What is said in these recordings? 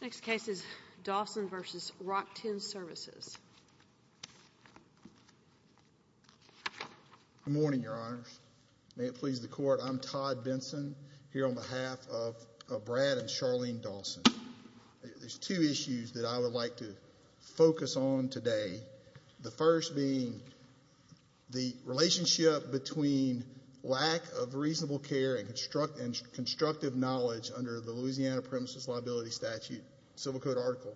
Next case is Dawson v. RockTenn Services. Good morning, Your Honors. May it please the Court, I'm Todd Benson here on behalf of Brad and Charlene Dawson. There's two issues that I would like to focus on today. The first being the relationship between lack of reasonable care and constructive knowledge under the Civil Code Article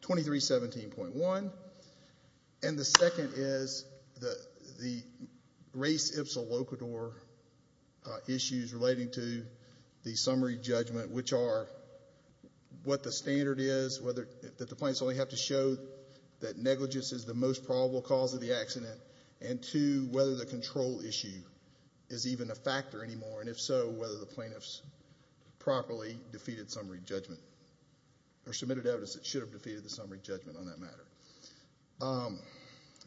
2317.1, and the second is the race ipsa locator issues relating to the summary judgment, which are what the standard is, whether the plaintiffs only have to show that negligence is the most probable cause of the accident, and two, whether the control issue is even a factor anymore, and if so, whether the plaintiffs properly defeated summary judgment. There's submitted evidence that should have defeated the summary judgment on that matter.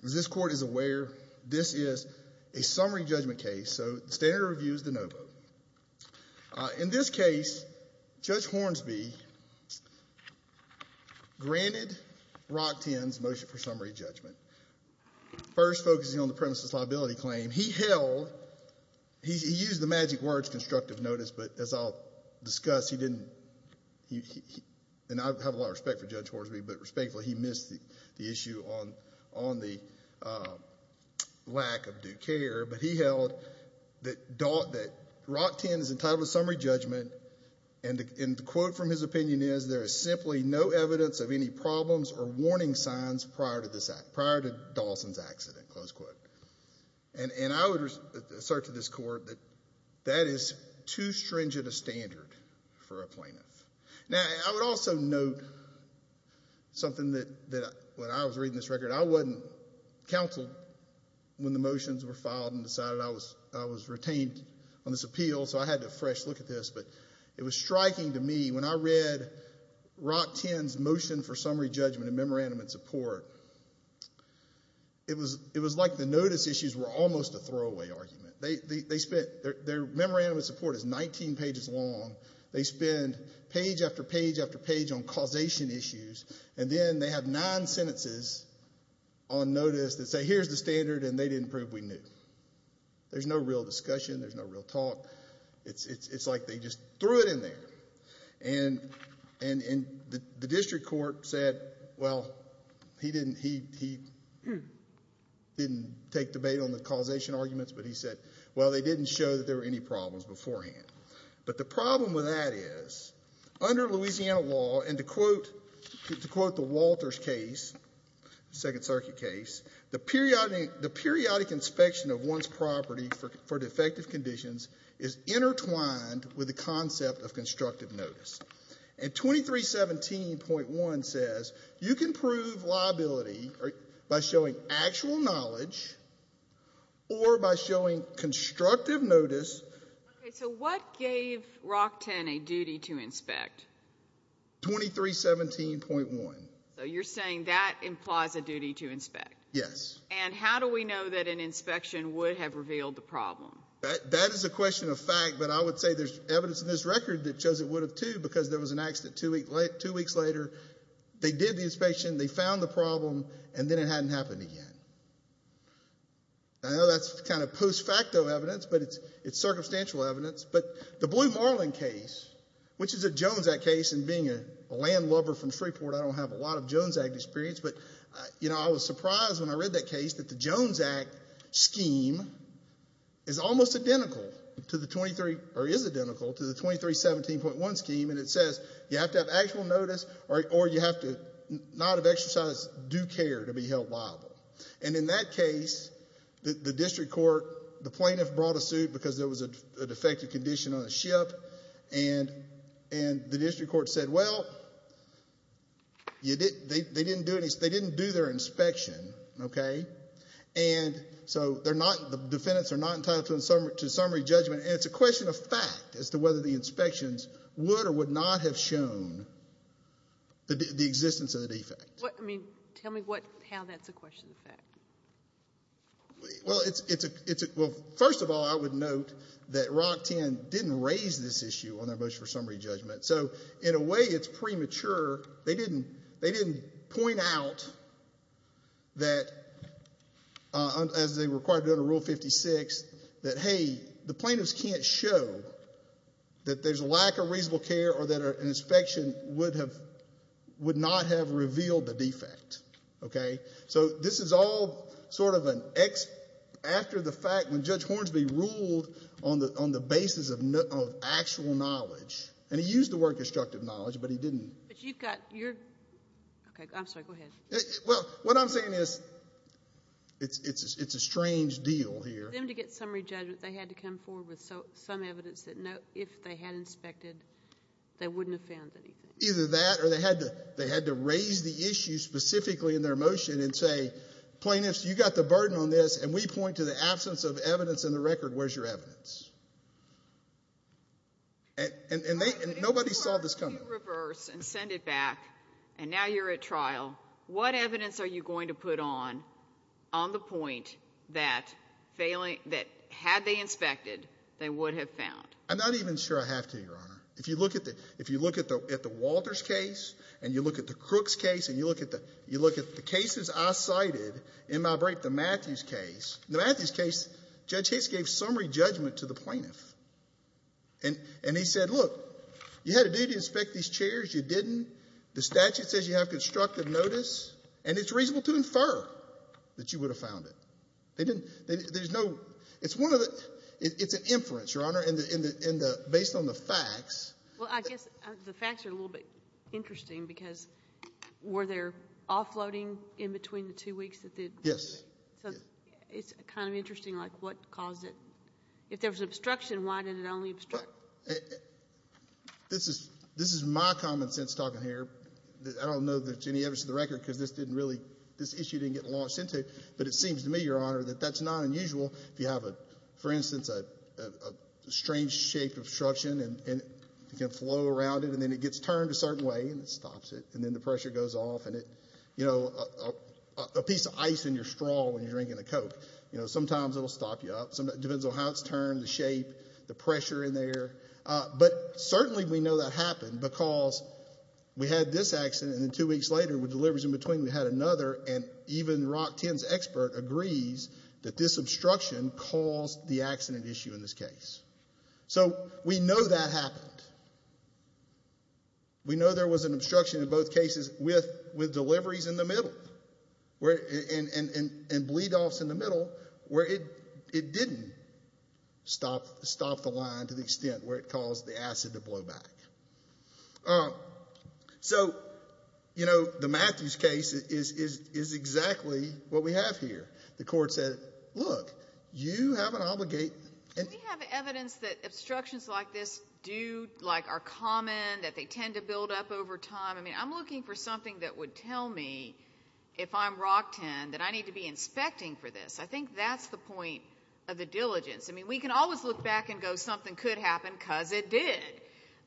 As this Court is aware, this is a summary judgment case, so the standard of review is de novo. In this case, Judge Hornsby granted RockTenn's motion for summary judgment, first focusing on the premises liability claim. He held, he used the magic words constructive notice, but as I'll discuss, he didn't, and I have a lot of respect for Judge Hornsby, but respectfully, he missed the issue on the lack of due care, but he held that RockTenn is entitled to summary judgment, and the quote from his opinion is, there is simply no evidence of any problems or warning signs prior to Dawson's accident, close quote. And I would assert to this stringent a standard for a plaintiff. Now, I would also note something that when I was reading this record, I wasn't counseled when the motions were filed and decided I was retained on this appeal, so I had to fresh look at this, but it was striking to me when I read RockTenn's motion for summary judgment and memorandum of support, it was like the notice issues were almost a throwaway argument. They spent, their memorandum of support is 19 pages long. They spend page after page after page on causation issues, and then they have nine sentences on notice that say, here's the standard, and they didn't prove we knew. There's no real discussion. There's no real talk. It's like they just threw it in there, and the district court said, well, he didn't take debate on the issue. He said, well, they didn't show that there were any problems beforehand. But the problem with that is, under Louisiana law, and to quote the Walters case, second circuit case, the periodic inspection of one's property for defective conditions is intertwined with the concept of constructive notice. And 2317.1 says you can prove liability by showing actual knowledge or by showing constructive notice. Okay, so what gave RockTenn a duty to inspect? 2317.1. So you're saying that implies a duty to inspect? Yes. And how do we know that an inspection would have revealed the problem? That is a question of fact, but I would say there's evidence in this record that shows it would have too, because there was an accident two weeks later. They did the inspection. I know that's kind of post facto evidence, but it's circumstantial evidence. But the Blue Marlin case, which is a Jones Act case, and being a landlubber from Shreveport, I don't have a lot of Jones Act experience, but you know, I was surprised when I read that case that the Jones Act scheme is almost identical to the 23, or is identical to the 2317.1 scheme, and it says you have to have actual notice or you have to not have exercised due care to be held liable. And in that case, the district court, the plaintiff brought a suit because there was a defective condition on a ship, and the district court said, well, they didn't do their inspection, okay, and so the defendants are not entitled to summary judgment, and it's a question of fact as to whether the inspections would or would not have shown the existence of the defect. What, I mean, tell me what, how that's a question of fact. Well, it's, it's a, it's a, well, first of all, I would note that Rock 10 didn't raise this issue on their motion for summary judgment. So, in a way, it's premature. They didn't, they didn't point out that, as they required under Rule 56, that, hey, the plaintiffs can't show that there's not, have revealed the defect, okay. So, this is all sort of an ex, after the fact when Judge Hornsby ruled on the, on the basis of actual knowledge, and he used the word constructive knowledge, but he didn't. But you've got your, okay, I'm sorry, go ahead. Well, what I'm saying is, it's, it's, it's a strange deal here. For them to get summary judgment, they had to come forward with some evidence that no, if they had inspected, they wouldn't have found anything. Either that, or they had to, they had to raise the issue specifically in their motion and say, plaintiffs, you got the burden on this, and we point to the absence of evidence in the record, where's your evidence? And, and, and they, and nobody saw this coming. If you reverse and send it back, and now you're at trial, what evidence are you going to put on, on the point that failing, that had they inspected, they would have found? I'm not even sure I have to, Your Honor. If you look at the, at the Walters case, and you look at the Crooks case, and you look at the, you look at the cases I cited in my break, the Matthews case. In the Matthews case, Judge Hicks gave summary judgment to the plaintiff. And, and he said, look, you had a duty to inspect these chairs, you didn't. The statute says you have constructive notice, and it's reasonable to infer that you would have found it. They didn't, there's no, it's one of the, it's an inference, Your Honor. In the, in the, in the, based on the facts. Well, I guess the facts are a little bit interesting, because were there offloading in between the two weeks that they? Yes. So, it's kind of interesting, like, what caused it? If there was obstruction, why did it only obstruct? This is, this is my common sense talking here. I don't know that there's any evidence in the record, because this didn't really, this issue didn't get launched into it. But it seems to me, that that's not unusual. If you have a, for instance, a strange shape of obstruction, and it can flow around it, and then it gets turned a certain way, and it stops it, and then the pressure goes off, and it, you know, a piece of ice in your straw when you're drinking a Coke, you know, sometimes it'll stop you up. Sometimes, it depends on how it's turned, the shape, the pressure in there. But certainly, we know that happened, because we had this accident, and then two weeks later, with deliveries in between, we had another, and even Rock that this obstruction caused the accident issue in this case. So, we know that happened. We know there was an obstruction in both cases with, with deliveries in the middle, where, and, and, and, and bleed-offs in the middle, where it, it didn't stop, stop the line to the extent where it caused the acid to blow back. Um, so, you know, the Matthews case is, is, is exactly what we have here. The court said, look, you have an obligate, and... Do we have evidence that obstructions like this do, like, are common, that they tend to build up over time? I mean, I'm looking for something that would tell me, if I'm Rock 10, that I need to be inspecting for this. I think that's the point of the diligence. I mean, we can always look back and go, something could happen, because it did.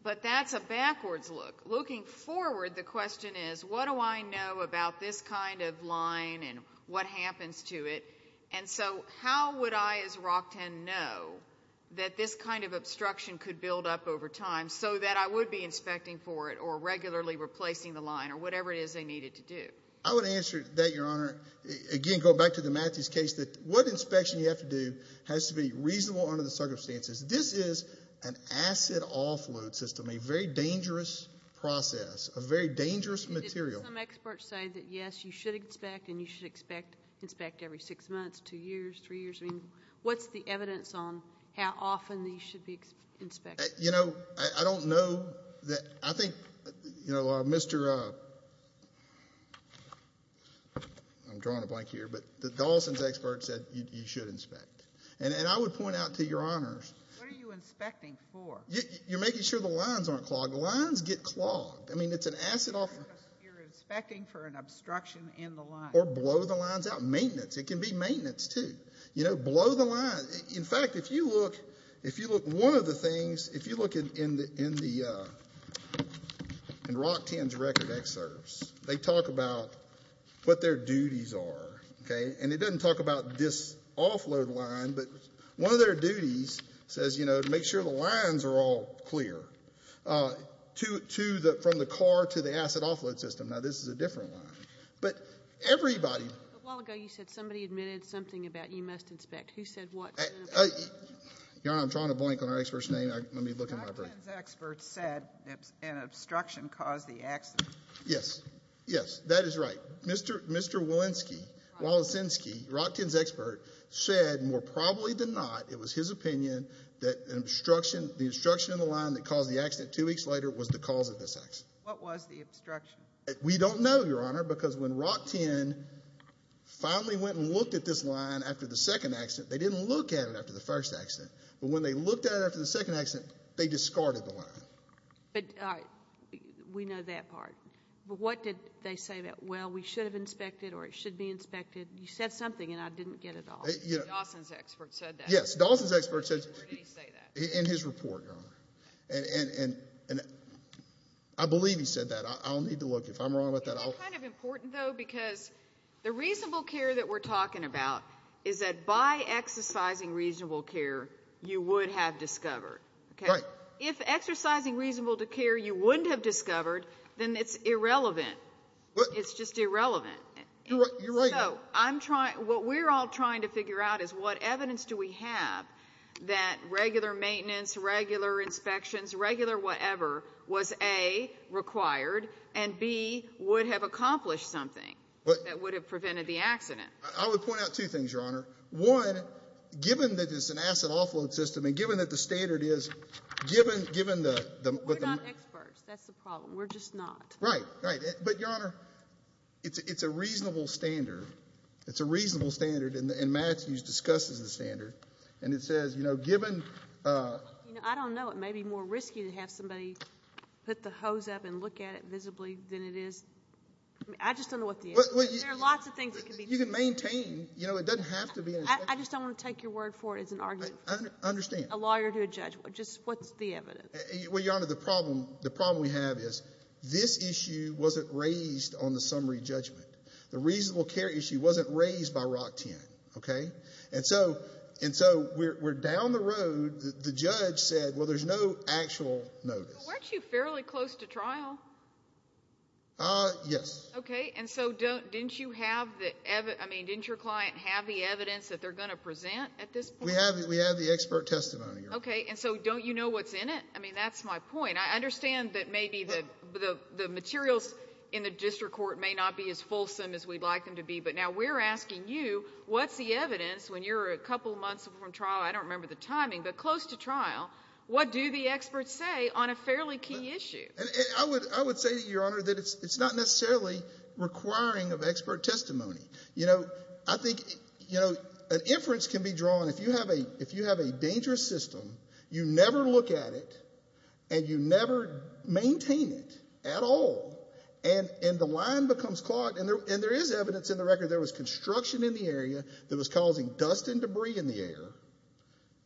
But that's a backwards look. Looking forward, the question is, what do I know about this kind of line, and what happens to it? And so, how would I, as Rock 10, know that this kind of obstruction could build up over time, so that I would be inspecting for it, or regularly replacing the line, or whatever it is they needed to do? I would answer that, Your Honor. Again, going back to the Matthews case, that what inspection you have to do has to be reasonable under the circumstances. This is an acid offload system, a very dangerous process, a very dangerous material. Did some experts say that, yes, you should inspect, and you should inspect every six months, two years, three years? I mean, what's the evidence on how often these should be inspected? You know, I don't know. I think, you know, Mr. I'm drawing a blank here, but the Dawson's expert said you should inspect. And I would point out to Your Honors. What are you inspecting for? You're making sure the lines aren't clogged. Lines get clogged. I mean, it's an acid offload. You're inspecting for an obstruction in the line. Or blow the lines out. Maintenance. It can be maintenance, too. You know, blow the line. In fact, if you look, if you look, one of the things, if you look in the, in the, in Rockton's record excerpts, they talk about what their duties are, okay? And it doesn't talk about this offload line, but one of their duties says, you know, to make sure the lines are all clear to the, from the car to the acid offload system. Now, this is a different line. But everybody. A while ago, you said somebody admitted something about you must inspect. Who said what? Your Honor, I'm drawing a blank on our expert's name. Let me look in my book. Rockton's expert said an obstruction caused the accident. Yes. Yes, that is right. Mr. Walensky, Walensky, Rockton's expert, said more probably than not, it was his opinion that an obstruction, the obstruction in the line that caused the accident two weeks later was the cause of this accident. What was the obstruction? We don't know, Your Honor, because when Rockton finally went and looked at this line after the second accident, they didn't look at it after the first accident. But when they looked at it after the second accident, they discarded the line. But we know that part. But what did they say about, well, we should have inspected or it should be inspected? You said something and I didn't get it all. Dawson's expert said that. Yes, Dawson's expert said that in his report, Your Honor. And I believe he said that. I'll need to look. If I'm wrong with that, I'll... Isn't that kind of important, though, because the reasonable care that we're talking about is that by exercising reasonable care, you would have discovered. Right. If exercising reasonable care, you wouldn't have discovered, then it's irrelevant. It's just irrelevant. You're right. So I'm trying, what we're all trying to figure out is what evidence do we have that regular maintenance, regular inspections, regular whatever was, A, required and B, would have accomplished something that would have prevented the accident? I would point out two things, Your Honor. One, given that it's an asset offload system and given that the standard is, given the... We're not experts. That's the problem. We're just not. Right. Right. But, Your Honor, it's a reasonable standard. It's a reasonable standard. And Matthews discusses the standard. And it says, you know, given... I don't know. It may be more risky to have somebody put the hose up and look at it visibly than it is. I just don't know what the answer is. There are lots of things that could be... Maintain, you know, it doesn't have to be... I just don't want to take your word for it as an argument. I understand. A lawyer to a judge. Just what's the evidence? Well, Your Honor, the problem we have is this issue wasn't raised on the summary judgment. The reasonable care issue wasn't raised by Rock 10, okay? And so we're down the road. The judge said, well, there's no actual notice. Weren't you fairly close to trial? Yes. Okay. And so didn't you have the evidence? I mean, didn't your client have the evidence that they're going to present at this point? We have the expert testimony, Your Honor. Okay. And so don't you know what's in it? I mean, that's my point. I understand that maybe the materials in the district court may not be as fulsome as we'd like them to be. But now we're asking you, what's the evidence when you're a couple of months from trial? I don't remember the timing, but close to trial. What do the experts say on a fairly key issue? I would say that, Your Honor, that it's not necessarily requiring of expert testimony. You know, I think, you know, an inference can be drawn if you have a dangerous system, you never look at it, and you never maintain it at all. And the line becomes clogged. And there is evidence in the record there was construction in the area that was causing dust and debris in the air.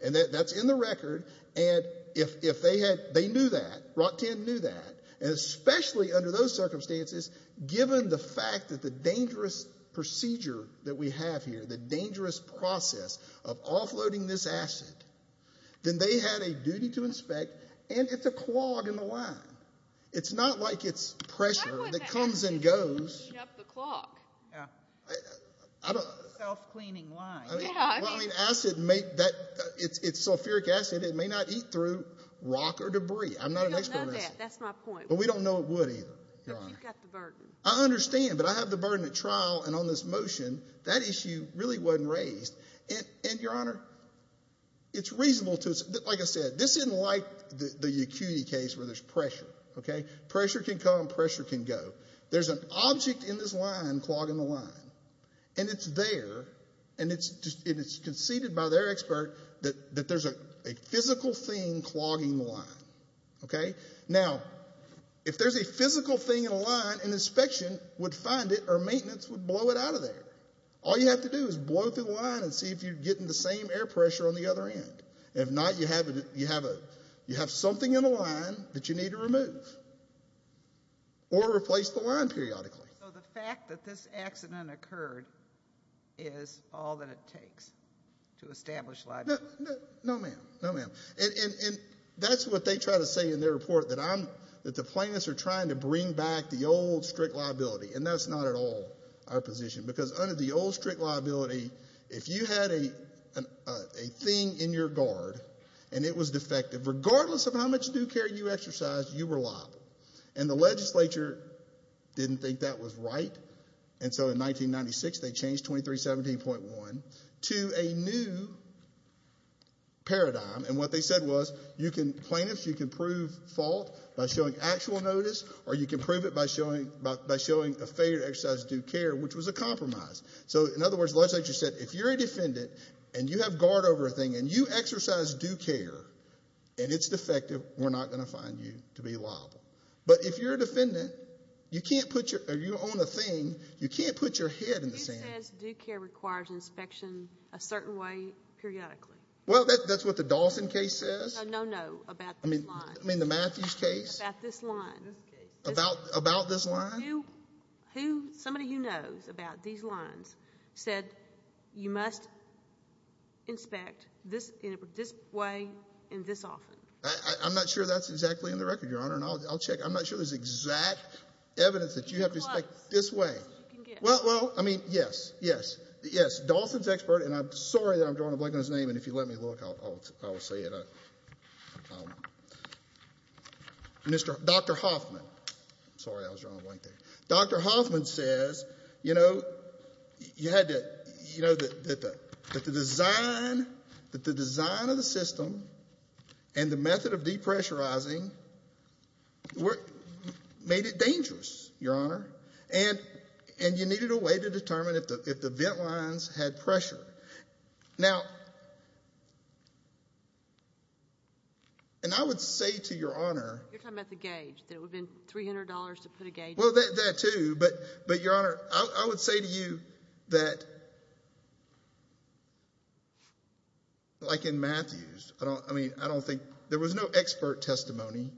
And that's in the record. And if they had, they knew that, ROTCAM knew that, and especially under those circumstances, given the fact that the dangerous procedure that we have here, the dangerous process of offloading this acid, then they had a duty to inspect, and it's a clog in the line. It's not like it's pressure that comes and goes. Why wouldn't it have to be cleaning up the clog? Self-cleaning line. Well, I mean, acid may, it's sulfuric acid. It may not eat through rock or debris. I don't know that. That's my point. But we don't know it would either, Your Honor. You've got the burden. I understand, but I have the burden at trial, and on this motion, that issue really wasn't raised. And, Your Honor, it's reasonable to, like I said, this isn't like the Yacuti case where there's pressure, okay? Pressure can come, pressure can go. There's an object in this clog in the line, and it's there, and it's conceded by their expert that there's a physical thing clogging the line, okay? Now, if there's a physical thing in a line, an inspection would find it or maintenance would blow it out of there. All you have to do is blow through the line and see if you're getting the same air pressure on the other end. If not, you have something in the line that you need to remove or replace the line periodically. So the fact that this accident occurred is all that it takes to establish liability? No, ma'am. No, ma'am. And that's what they try to say in their report, that I'm, that the plaintiffs are trying to bring back the old strict liability. And that's not at all our position, because under the old strict liability, if you had a thing in your guard, and it was defective, regardless of how much new care you exercised, you were liable. And the legislature didn't think that was right. And so in 1996, they changed 2317.1 to a new paradigm. And what they said was, you can, plaintiffs, you can prove fault by showing actual notice, or you can prove it by showing, by showing a failure to exercise due care, which was a compromise. So in other words, the legislature said, if you're a defendant, and you have guard over a thing, and you exercise due care, and it's defective, we're not going to find you to be liable. But if you're a defendant, you can't put your, or you own a thing, you can't put your head in the sand. Who says due care requires inspection a certain way periodically? Well, that's what the Dawson case says. No, no, about this line. I mean, the Matthews case? About this line. About this line? Who, who, somebody who knows about these lines said, you must inspect this, in this way, and this often. I'm not sure that's exactly in the record, Your Honor, and I'll, I'll check. I'm not sure there's exact evidence that you have to inspect this way. Well, well, I mean, yes, yes, yes. Dawson's expert, and I'm sorry that I'm drawing a blank on his name, and if you let me look, I'll, I'll, I'll say it. Mr., Dr. Hoffman. Sorry, I was drawing a blank there. Dr. Hoffman says, you know, you had to, you know, that the, that the design, that the design of the system and the method of depressurizing were, made it dangerous, Your Honor, and, and you needed a way to determine if the, if the vent lines had pressure. Now, and I would say to Your Honor. You're talking about the gauge, that it would have been $300 to put a gauge on. Well, that, that too, but, but Your Honor, I would say to you that, like in Matthews, I don't, I mean, I don't think, there was no expert testimony.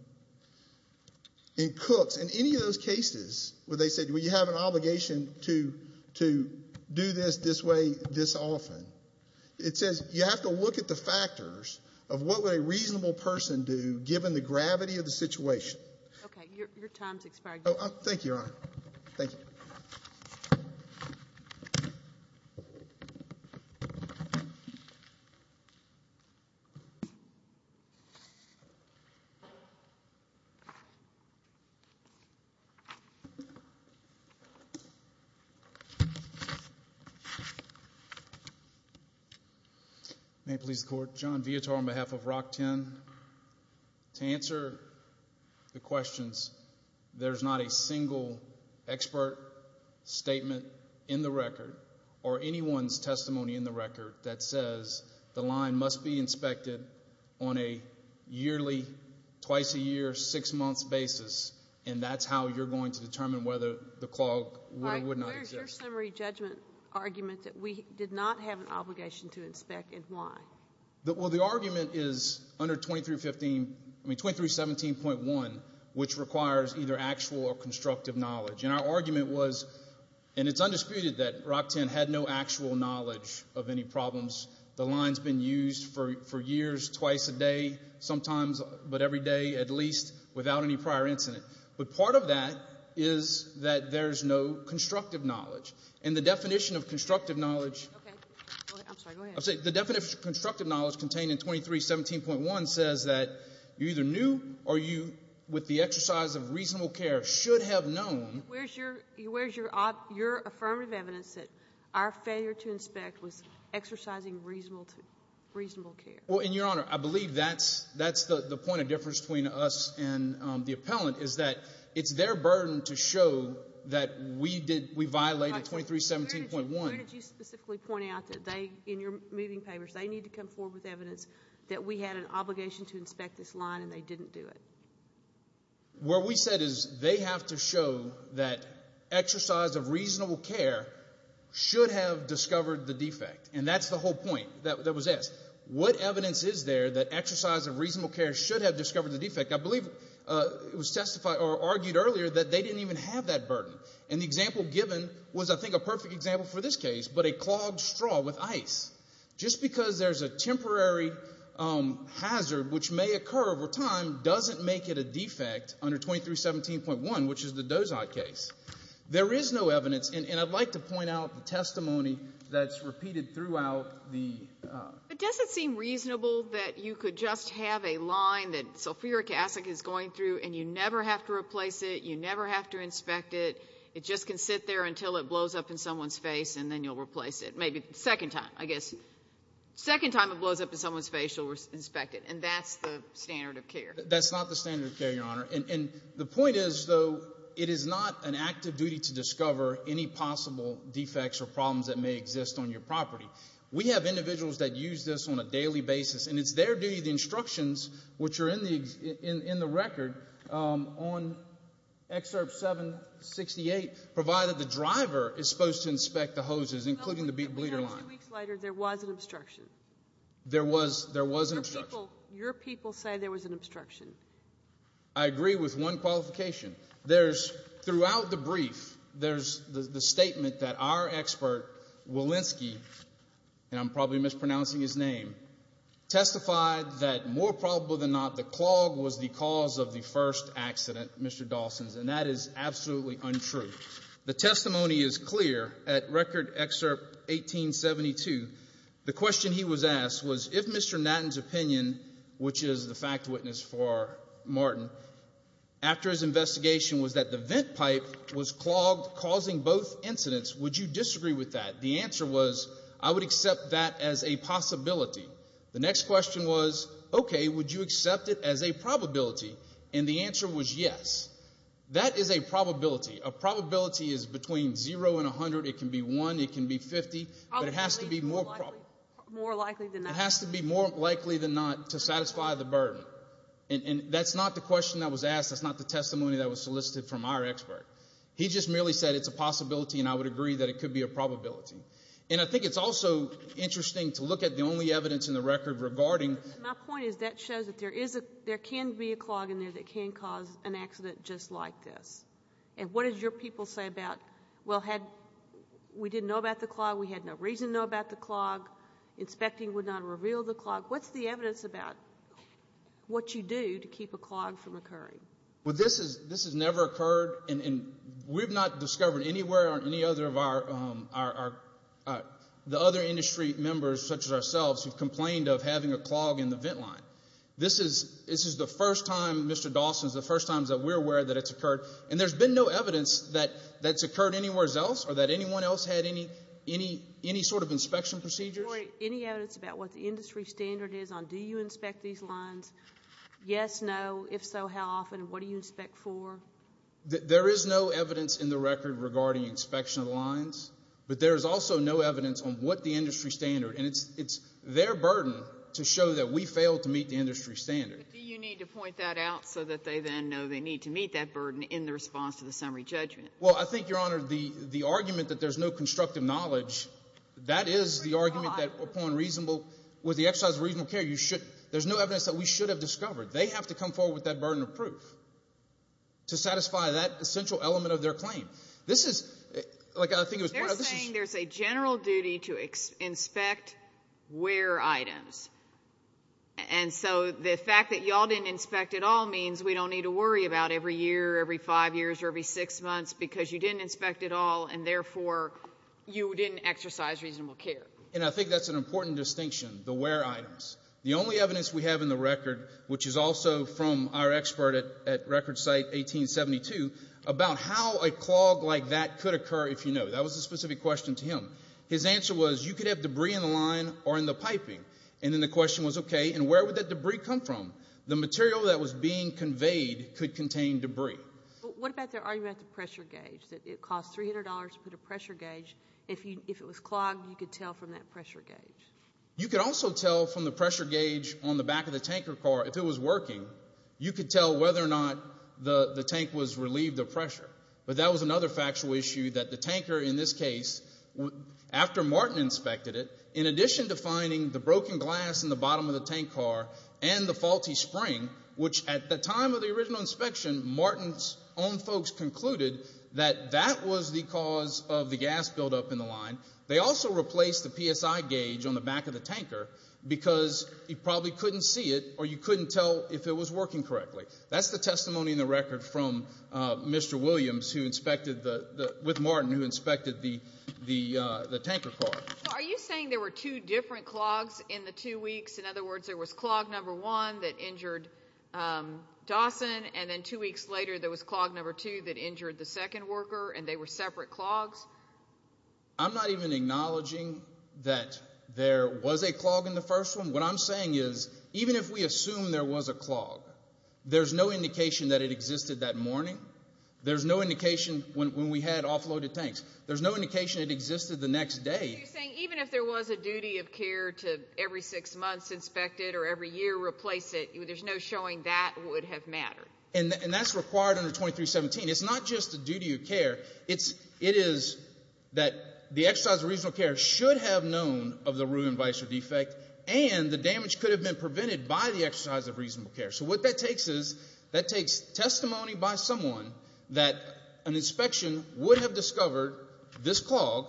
In Cook's, in any of those cases where they said, well, you have an obligation to, to do this, this way, this often, it says you have to look at the factors of what would a reasonable person do, given the gravity of the situation. Okay, your, your time's expired. Oh, thank you, Your Honor. Thank you. May it please the Court, John Vietor on behalf of Rock 10. To answer the questions, there's not a single expert statement in the record, or anyone's testimony in the record, that says the line must be inspected on a yearly, twice a year, six months basis, and that's how you're going to determine whether the clog would not exist. Where's your summary judgment argument that we did not have an obligation to inspect, and why? Well, the argument is under 2315, I mean 2317.1, which requires either actual or had no actual knowledge of any problems. The line's been used for, for years, twice a day, sometimes, but every day, at least, without any prior incident. But part of that is that there's no constructive knowledge, and the definition of constructive knowledge. Okay, I'm sorry, go ahead. I'm sorry, the definition of constructive knowledge contained in 2317.1 says that you either knew or you, with the exercise of reasonable care, should have known. Where's your, where's your, your affirmative evidence that our failure to inspect was exercising reasonable, reasonable care? Well, and Your Honor, I believe that's, that's the point of difference between us and the appellant, is that it's their burden to show that we did, we violated 2317.1. Where did you specifically point out that they, in your moving papers, they need to come forward with evidence that we had an obligation to inspect this line, and they didn't do it? What we said is they have to show that exercise of reasonable care should have discovered the defect, and that's the whole point that, that was asked. What evidence is there that exercise of reasonable care should have discovered the defect? I believe it was testified, or argued earlier, that they didn't even have that burden, and the example given was, I think, a perfect example for this case, but a clogged straw with ice. Just because there's a temporary hazard, which may occur over time, doesn't make it a defect under 2317.1, which is the Dozot case. There is no evidence, and I'd like to point out the testimony that's repeated throughout the... But does it seem reasonable that you could just have a line that Sulfuric Acid is going through, and you never have to replace it, you never have to inspect it, it just can sit there until it blows up in someone's face, and then you'll replace it, maybe the second time, I guess. Second time it blows up in someone's face, you'll inspect it, and that's the standard of care. That's not the standard of care, Your Honor, and the point is, though, it is not an active duty to discover any possible defects or problems that may exist on your property. We have individuals that use this on a daily basis, and it's their duty, the instructions, which are in the record, on Excerpt 768, provided the driver is supposed to inspect the hoses, including the bleeder line. Two weeks later, there was an obstruction. There was an obstruction. Your people say there was an obstruction. I agree with one qualification. There's, throughout the brief, there's the statement that our expert, Walensky, and I'm probably mispronouncing his name, testified that, more probable than not, the clog was the cause of the first accident, Mr. Dawson's, and that is absolutely untrue. The testimony is clear. At Record Excerpt 1872, the question he was asked was, if Mr. Natten's opinion, which is the fact witness for Martin, after his investigation was that the vent pipe was clogged, causing both incidents, would you disagree with that? The answer was, I would accept that as a possibility. The next question was, okay, would you accept it as a probability? And the answer was yes. That is a probability. A probability is between 0 and 100. It can be 1. It can be 50. But it has to be more likely than not to satisfy the burden. And that's not the question that was asked. That's not the testimony that was solicited from our expert. He just merely said it's a possibility, and I would agree that it could be a probability. And I think it's also interesting to look at the only evidence in the record regarding— My point is that shows that there can be a clog in there that can cause an accident just like this. And what did your people say about, well, we didn't know about the clog. We had no reason to know about the clog. Inspecting would not reveal the clog. What's the evidence about what you do to keep a clog from occurring? Well, this has never occurred. And we've not discovered anywhere on any other of the other industry members, such as ourselves, who've complained of having a clog in the vent line. This is the first time, Mr. Dawson, it's the first time that we're aware that it's occurred. And there's been no evidence that that's occurred anywhere else or that anyone else had any sort of inspection procedures. Any evidence about what the industry standard is on do you inspect these lines? Yes, no, if so, how often, what do you inspect for? There is no evidence in the record regarding inspection of lines. But there is also no evidence on what the industry standard— it's their burden to show that we failed to meet the industry standard. But do you need to point that out so that they then know they need to meet that burden in the response to the summary judgment? Well, I think, Your Honor, the argument that there's no constructive knowledge, that is the argument that upon reasonable—with the exercise of reasonable care, you should—there's no evidence that we should have discovered. They have to come forward with that burden of proof to satisfy that essential element of their claim. This is—like, I think it was— They're saying there's a general duty to inspect wear items. And so the fact that y'all didn't inspect at all means we don't need to worry about every year or every five years or every six months because you didn't inspect at all, and therefore, you didn't exercise reasonable care. And I think that's an important distinction, the wear items. The only evidence we have in the record, which is also from our expert at Record Site 1872, about how a clog like that could occur, if you know. That was a specific question to him. His answer was, you could have debris in the line or in the piping. And then the question was, okay, and where would that debris come from? The material that was being conveyed could contain debris. What about their argument about the pressure gauge, that it cost $300 to put a pressure gauge? If it was clogged, you could tell from that pressure gauge? You could also tell from the pressure gauge on the back of the tanker car, but that was another factual issue that the tanker, in this case, after Martin inspected it, in addition to finding the broken glass in the bottom of the tank car and the faulty spring, which at the time of the original inspection, Martin's own folks concluded that that was the cause of the gas buildup in the line. They also replaced the PSI gauge on the back of the tanker because you probably couldn't see it or you couldn't tell if it was working correctly. That's the testimony in the record from Mr. Williams, with Martin, who inspected the tanker car. Are you saying there were two different clogs in the two weeks? In other words, there was clog number one that injured Dawson, and then two weeks later there was clog number two that injured the second worker and they were separate clogs? I'm not even acknowledging that there was a clog in the first one. What I'm saying is, even if we assume there was a clog, there's no indication that it existed that morning. There's no indication when we had offloaded tanks. There's no indication it existed the next day. Are you saying even if there was a duty of care to every six months inspect it or every year replace it, there's no showing that would have mattered? And that's required under 2317. It's not just a duty of care, it is that the exercise of reasonable care should have known of the ruin, vice, or defect, and the damage could have been prevented by the exercise of reasonable care. So what that takes is, that takes testimony by someone that an inspection would have discovered this clog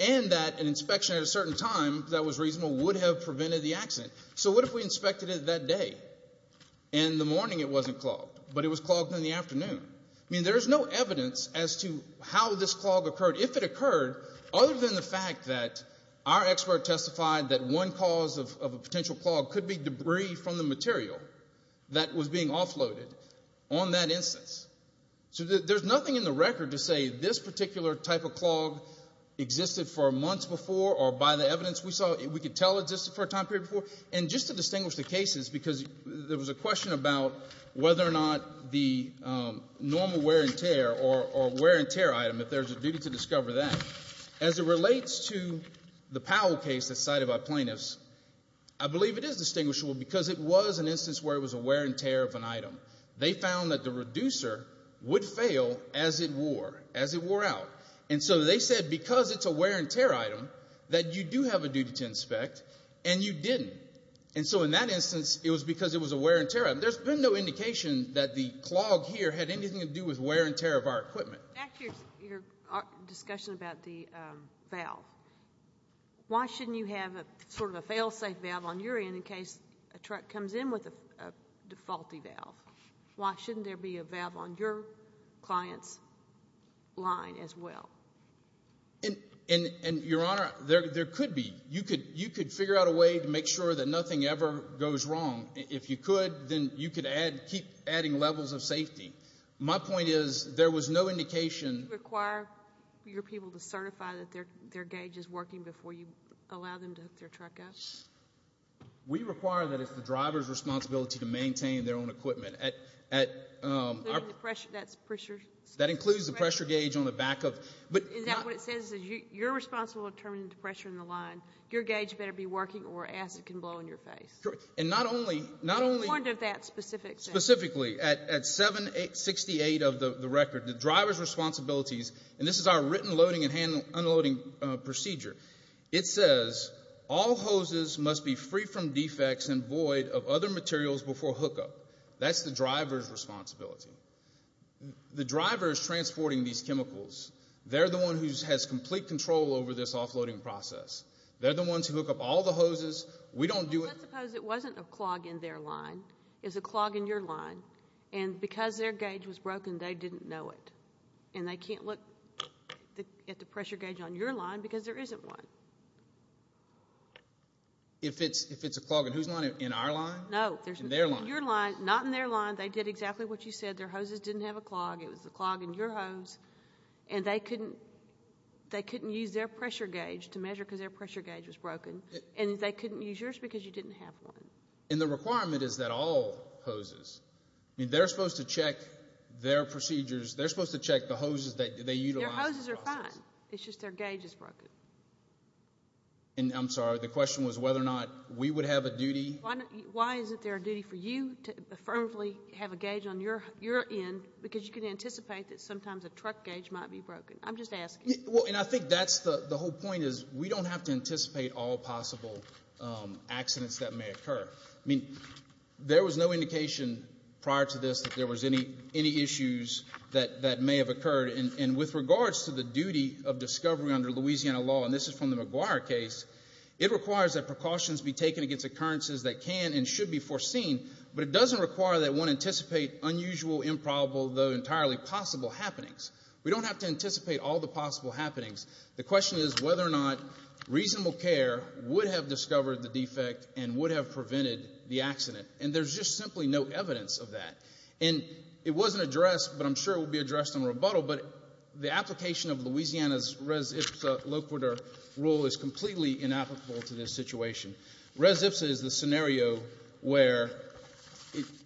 and that an inspection at a certain time that was reasonable would have prevented the accident. So what if we inspected it that day and the morning it wasn't clogged, but it was clogged in the afternoon? I mean, there's no evidence as to how this clog occurred. If it occurred, other than the fact that our expert testified that one cause of a potential clog could be debris from the material, that was being offloaded on that instance. So there's nothing in the record to say this particular type of clog existed for months before or by the evidence we saw, we could tell existed for a time period before. And just to distinguish the cases, because there was a question about whether or not the normal wear and tear or wear and tear item, if there's a duty to discover that, as it relates to the Powell case that's cited by plaintiffs, I believe it is distinguishable because it was an instance where it was a wear and tear of an item. They found that the reducer would fail as it wore, as it wore out. And so they said, because it's a wear and tear item, that you do have a duty to inspect and you didn't. And so in that instance, it was because it was a wear and tear item. There's been no indication that the clog here had anything to do with wear and tear of our equipment. Back to your discussion about the valve. Why shouldn't you have a sort of a failsafe valve on your end in case a truck comes in with a defaulty valve? Why shouldn't there be a valve on your client's line as well? And, Your Honor, there could be. You could figure out a way to make sure that nothing ever goes wrong. If you could, then you could add, keep adding levels of safety. My point is, there was no indication. Do you require your people to certify that their gauge is working before you allow them to hook their truck up? We require that it's the driver's responsibility to maintain their own equipment. At, um, that includes the pressure gauge on the back of, but, Is that what it says? You're responsible for determining the pressure in the line. Your gauge better be working or acid can blow in your face. Correct. And not only, not only, What is the point of that specific thing? Specifically, at 768 of the record, the driver's responsibilities, and this is our written loading and hand unloading procedure. It says all hoses must be free from defects and void of other materials before hookup. That's the driver's responsibility. The driver is transporting these chemicals. They're the one who has complete control over this offloading process. They're the ones who hook up all the hoses. We don't do it. Well, let's suppose it wasn't a clog in their line. It's a clog in your line. And because their gauge was broken, they didn't know it. And they can't look at the pressure gauge on your line because there isn't one. If it's a clog in whose line? In our line? No. In their line. Your line. Not in their line. They did exactly what you said. Their hoses didn't have a clog. It was a clog in your hose. And they couldn't, they couldn't use their pressure gauge to measure because their pressure gauge was broken. And they couldn't use yours because you didn't have one. And the requirement is that all hoses. I mean, they're supposed to check their procedures. They're supposed to check the hoses that they utilize. Their hoses are fine. It's just their gauge is broken. And I'm sorry. The question was whether or not we would have a duty. Why isn't there a duty for you to affirmatively have a gauge on your end because you can anticipate that sometimes a truck gauge might be broken? I'm just asking. And I think that's the whole point is we don't have to anticipate all possible accidents that may occur. I mean, there was no indication prior to this that there was any issues that may have occurred. And with regards to the duty of discovery under Louisiana law, and this is from the McGuire case, it requires that precautions be taken against occurrences that can and should be foreseen. But it doesn't require that one anticipate unusual, improbable, though entirely possible happenings. We don't have to anticipate all the possible happenings. The question is whether or not reasonable care would have discovered the defect and would have prevented the accident. And there's just simply no evidence of that. And it wasn't addressed, but I'm sure it will be addressed in rebuttal. The application of Louisiana's res ipsa loquitur rule is completely inapplicable to this situation. Res ipsa is the scenario where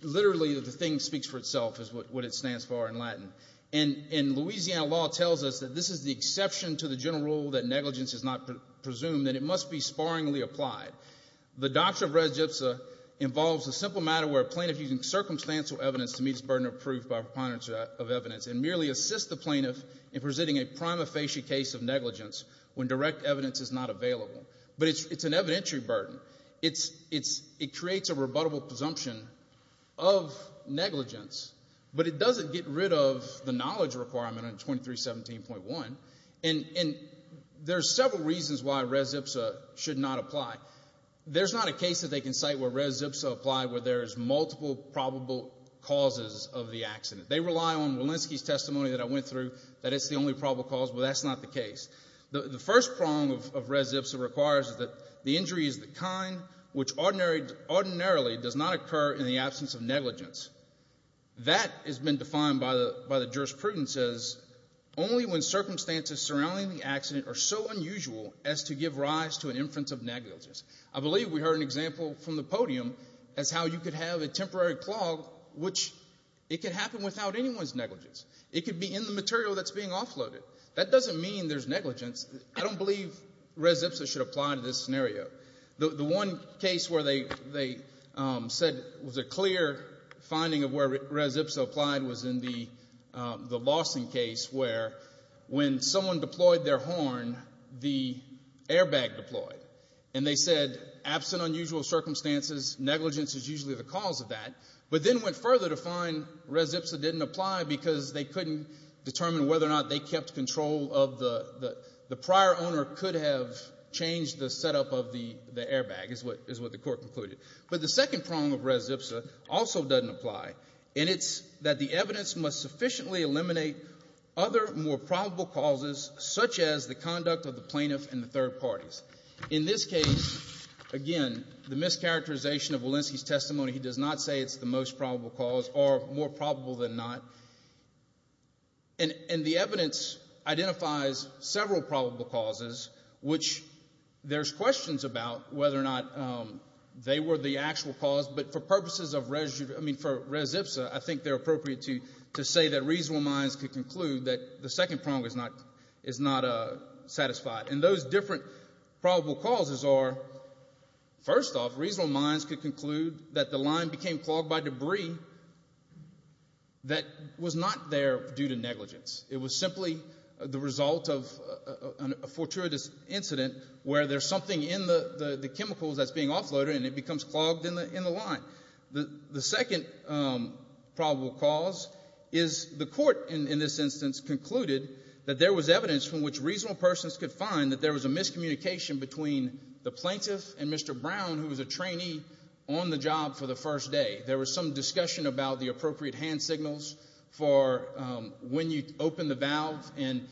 literally the thing speaks for itself is what it stands for in Latin. And Louisiana law tells us that this is the exception to the general rule that negligence is not presumed, that it must be sparingly applied. The doctrine of res ipsa involves a simple matter where a plaintiff using circumstantial evidence to meet his burden of proof by preponderance of evidence and merely assist the plaintiff in presenting a prima facie case of negligence when direct evidence is not available. But it's an evidentiary burden. It creates a rebuttable presumption of negligence, but it doesn't get rid of the knowledge requirement on 2317.1. And there's several reasons why res ipsa should not apply. There's not a case that they can cite where res ipsa applied where there's multiple probable causes of the accident. They rely on Walensky's testimony that I went through, that it's the only probable cause, but that's not the case. The first prong of res ipsa requires that the injury is the kind which ordinarily does not occur in the absence of negligence. That has been defined by the jurisprudence as only when circumstances surrounding the accident are so unusual as to give rise to an inference of negligence. I believe we heard an example from the podium as how you could have a temporary clog, which it could happen without anyone's negligence. It could be in the material that's being offloaded. That doesn't mean there's negligence. I don't believe res ipsa should apply to this scenario. The one case where they said was a clear finding of where res ipsa applied was in the Lawson case where when someone deployed their horn, the airbag deployed. And they said, absent unusual circumstances, negligence is usually the cause of that. But then went further to find res ipsa didn't apply because they couldn't determine whether or not they kept control of the prior owner could have changed the setup of the airbag, is what the Court concluded. But the second prong of res ipsa also doesn't apply, and it's that the evidence must sufficiently eliminate other, more probable causes such as the conduct of the plaintiff and the third parties. In this case, again, the mischaracterization of Walensky's testimony, he does not say it's the most probable cause or more probable than not. And the evidence identifies several probable causes, which there's questions about whether or not they were the actual cause. But for purposes of res, I mean, for res ipsa, I think they're appropriate to say that reasonable minds could conclude that the second prong is not satisfied. And those different probable causes are, first off, reasonable minds could conclude that the line became clogged by debris that was not there due to negligence. It was simply the result of a fortuitous incident where there's something in the chemicals that's being offloaded, and it becomes clogged in the line. The second probable cause is the Court, in this instance, concluded that there was evidence from which reasonable persons could find that there was a miscommunication between the plaintiff and Mr. Brown, who was a trainee on the job for the first day. There was some discussion about the appropriate hand signals for when you open the valve, and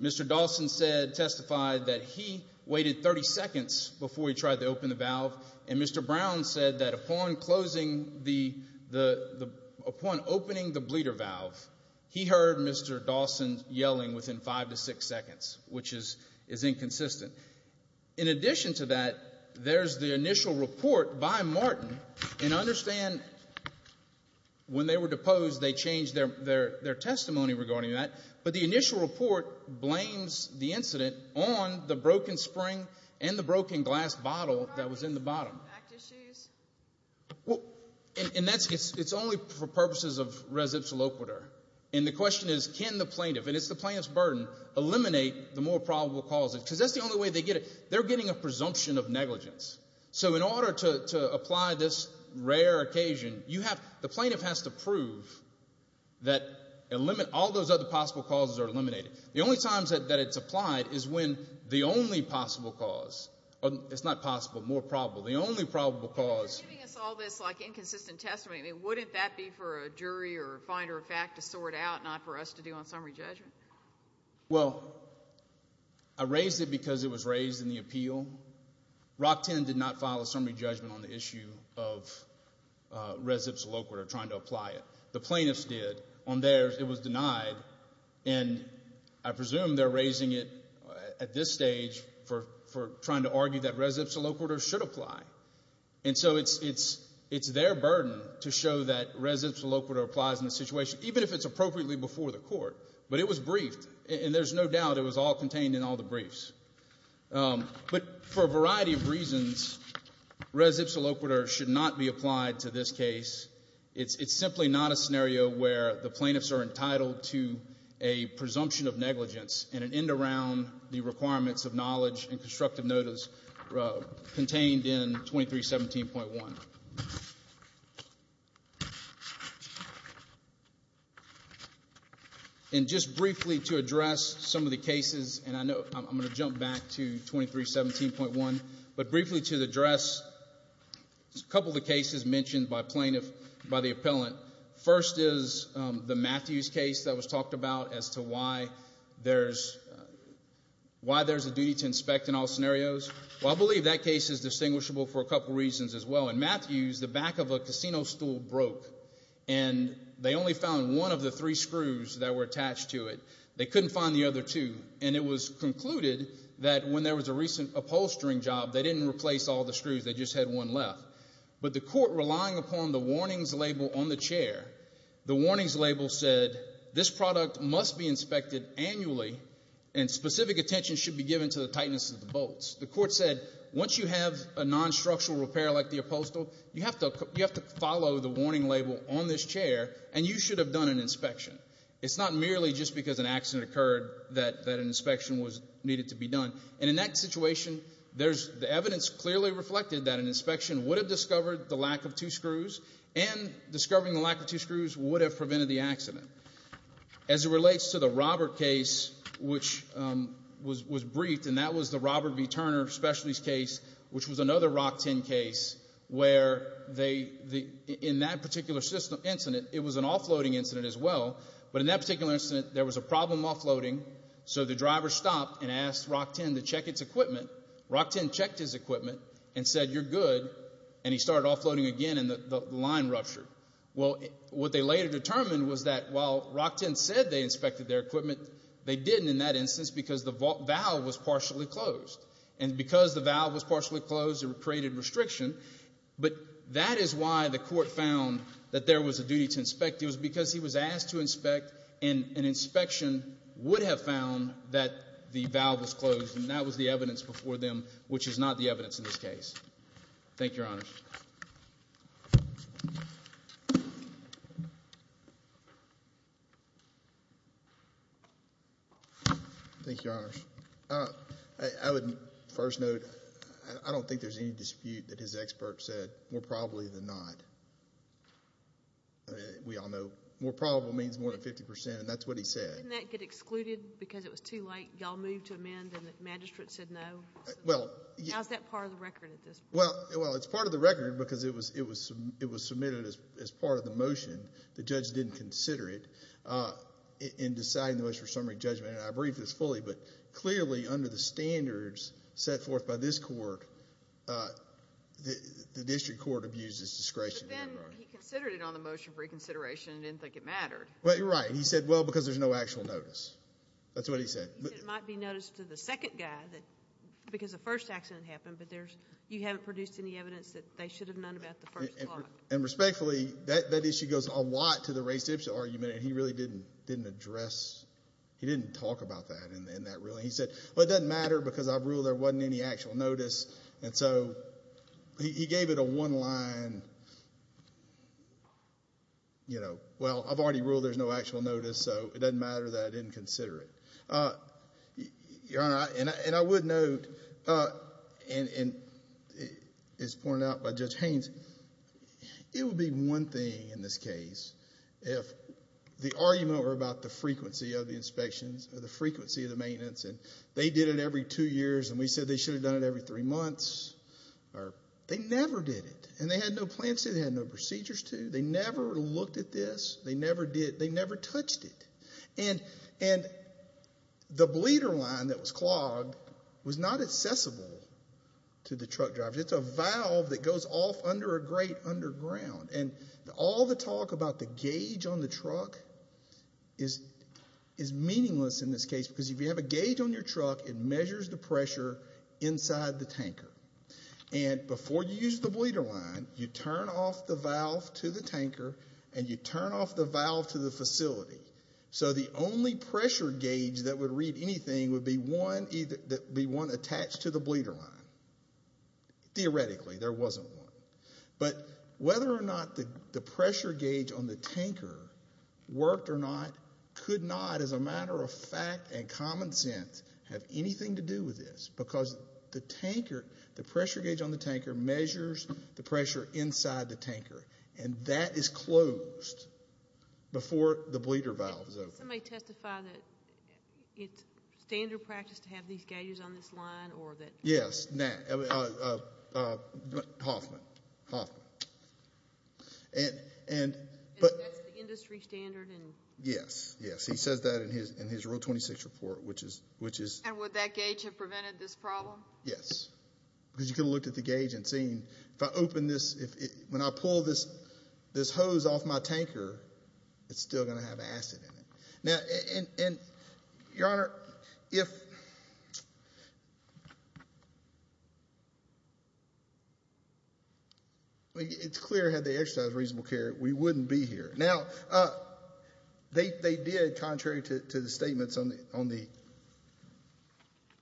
Mr. Dawson testified that he waited 30 seconds before he tried to open the valve, and Mr. Brown said that upon opening the bleeder valve, he heard Mr. Dawson yelling within five to six seconds, which is inconsistent. In addition to that, there's the initial report by Martin. And understand, when they were deposed, they changed their testimony regarding that. But the initial report blames the incident on the broken spring and the broken glass bottle that was in the bottom. And it's only for purposes of res ipsa loquitur. And the question is, can the plaintiff, and it's the plaintiff's burden, eliminate the more probable causes? Because that's the only way they get it. They're getting a presumption of negligence. So in order to apply this rare occasion, the plaintiff has to prove that all those other possible causes are eliminated. The only times that it's applied is when the only possible cause, it's not possible, more probable, the only probable cause... If they're giving us all this inconsistent testimony, wouldn't that be for a jury or a finder of fact to sort out, not for us to do on summary judgment? Well, I raised it because it was raised in the appeal. Rockton did not file a summary judgment on the issue of res ipsa loquitur trying to apply it. The plaintiffs did. On theirs, it was denied. And I presume they're raising it at this stage for trying to argue that res ipsa loquitur should apply. And so it's their burden to show that res ipsa loquitur applies in the situation, even if it's appropriately before the court. But it was briefed, and there's no doubt it was all contained in all the briefs. But for a variety of reasons, res ipsa loquitur should not be applied to this case. It's simply not a scenario where the plaintiffs are entitled to a presumption of negligence and an end around the requirements of knowledge and constructive notice contained in 2317.1. Just briefly to address some of the cases, and I'm going to jump back to 2317.1, but briefly to address a couple of the cases mentioned by the appellant. First is the Matthews case that was talked about as to why there's a duty to inspect in all scenarios. Well, I believe that case is distinguishable for a couple reasons as well. In Matthews, the back of a casino stool broke, and they only found one of the three screws that were attached to it. They couldn't find the other two. And it was concluded that when there was a recent upholstering job, they didn't replace all the screws. They just had one left. But the court, relying upon the warnings label on the chair, the warnings label said, this product must be inspected annually, and specific attention should be given to the tightness of the bolts. The court said, once you have a non-structural repair like the upholstery, you have to follow the warning label on this chair, and you should have done an inspection. It's not merely just because an accident occurred that an inspection was needed to be done. And in that situation, the evidence clearly reflected that an inspection would have discovered the lack of two screws, and discovering the lack of two screws would have prevented the accident. As it relates to the Robert case, which was briefed, and that was the Robert V. Turner Specialties case, which was another Rock 10 case, where in that particular incident, it was an offloading incident as well. But in that particular incident, there was a problem offloading. So the driver stopped and asked Rock 10 to check its equipment. Rock 10 checked his equipment and said, you're good. And he started offloading again, and the line ruptured. Well, what they later determined was that, while Rock 10 said they inspected their equipment, they didn't in that instance because the valve was partially closed. And because the valve was partially closed, it created restriction. But that is why the court found that there was a duty to inspect. It was because he was asked to inspect, and an inspection would have found that the valve was closed. And that was the evidence before them, which is not the evidence in this case. Thank you, Your Honors. I would first note, I don't think there's any dispute that his expert said, more probably than not. We all know more probable means more than 50%, and that's what he said. Didn't that get excluded because it was too late? Y'all moved to amend, and the magistrate said no? How's that part of the record at this point? Well, it's part of the record because it was submitted as part of the motion. The judge didn't consider it in deciding the motion for summary judgment. I briefed this fully, but clearly under the standards set forth by this court, the district court abused its discretion. But then he considered it on the motion for reconsideration and didn't think it mattered. Well, you're right. He said, well, because there's no actual notice. That's what he said. He said it might be noticed to the second guy because the first accident happened, but you haven't produced any evidence that they should have known about the first clock. And respectfully, that issue goes a lot to the Ray Sipsa argument, and he really didn't address, he didn't talk about that in that ruling. He said, well, it doesn't matter because I've ruled there wasn't any actual notice. And so he gave it a one line, you know, well, I've already ruled there's no actual notice, so it doesn't matter that I didn't consider it. Your Honor, and I would note, and it's pointed out by Judge Haynes, it would be one thing in this case if the argument were about the frequency of the inspections or the frequency of the maintenance, and they did it every two years, and we said they should have done it every three months. They never did it, and they had no plans to. They had no procedures to. They never looked at this. They never did. They never touched it. And the bleeder line that was clogged was not accessible to the truck driver. It's a valve that goes off under a grate underground, and all the talk about the gauge on the truck is meaningless in this case because if you have a gauge on your truck, it measures the pressure inside the tanker. And before you use the bleeder line, you turn off the valve to the tanker, and you turn off the valve to the facility. So the only pressure gauge that would read anything would be one attached to the bleeder line. Theoretically, there wasn't one. But whether or not the pressure gauge on the tanker worked or not could not, as a matter of fact and common sense, have anything to do with this because the tanker, the pressure gauge on the tanker measures the pressure inside the tanker, and that is closed before the bleeder valve is open. Can somebody testify that it's standard practice to have these gauges on this line or that? Yes, Hoffman. And that's the industry standard? Yes, yes. He says that in his Rule 26 report, which is... And would that gauge have prevented this problem? Yes, because you could have looked at the gauge and seen if I open this, when I pull this hose off my tanker, it's still going to have acid in it. And, Your Honor, if... It's clear, had they exercised reasonable care, we wouldn't be here. Now, they did, contrary to the statements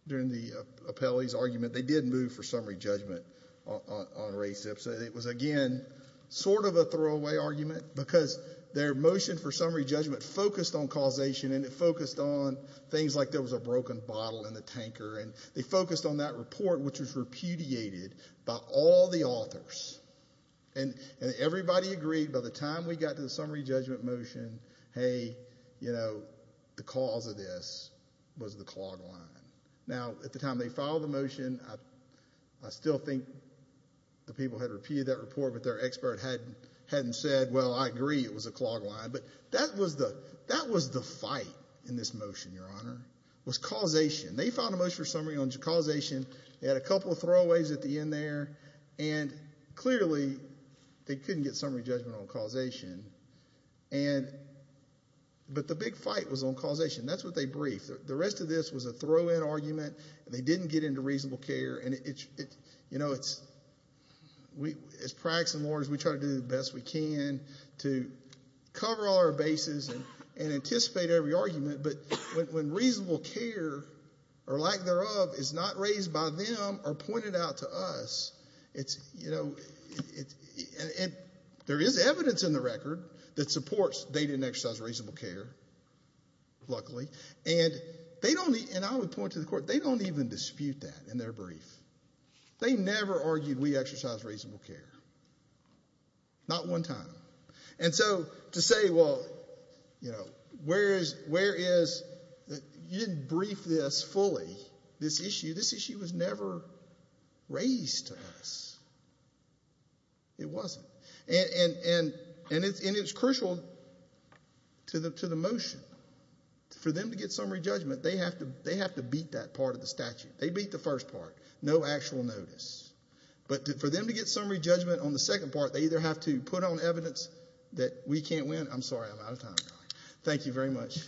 during the appellee's argument, they did move for summary judgment on race. It was, again, sort of a throwaway argument because their motion for summary judgment focused on causation and it focused on things like there was a broken bottle in the tanker, and they focused on that report, which was repudiated by all the authors. And everybody agreed by the time we got to the summary judgment motion, hey, you know, the cause of this was the clog line. Now, at the time they filed the motion, I still think the people had repeated that report, but their expert hadn't said, well, I agree, it was a clog line. But that was the fight in this motion, Your Honor, was causation. They filed a motion for summary on causation. They had a couple of throwaways at the end there. And clearly, they couldn't get summary judgment on causation. But the big fight was on causation. That's what they briefed. The rest of this was a throw-in argument. They didn't get into reasonable care. You know, as practicing lawyers, we try to do the best we can to cover all our bases and anticipate every argument. But when reasonable care or lack thereof is not raised by them or pointed out to us, there is evidence in the record that supports they didn't exercise reasonable care, luckily. And I would point to the court, they don't even dispute that in their brief. They never argued we exercise reasonable care. Not one time. And so to say, well, you know, where is, you didn't brief this fully, this issue. This issue was never raised to us. It wasn't. And it's crucial to the motion. For them to get summary judgment, they have to beat that part of the statute. They beat the first part. No actual notice. But for them to get summary judgment on the second part, they either have to put on evidence that we can't win. I'm sorry, I'm out of time. Thank you very much.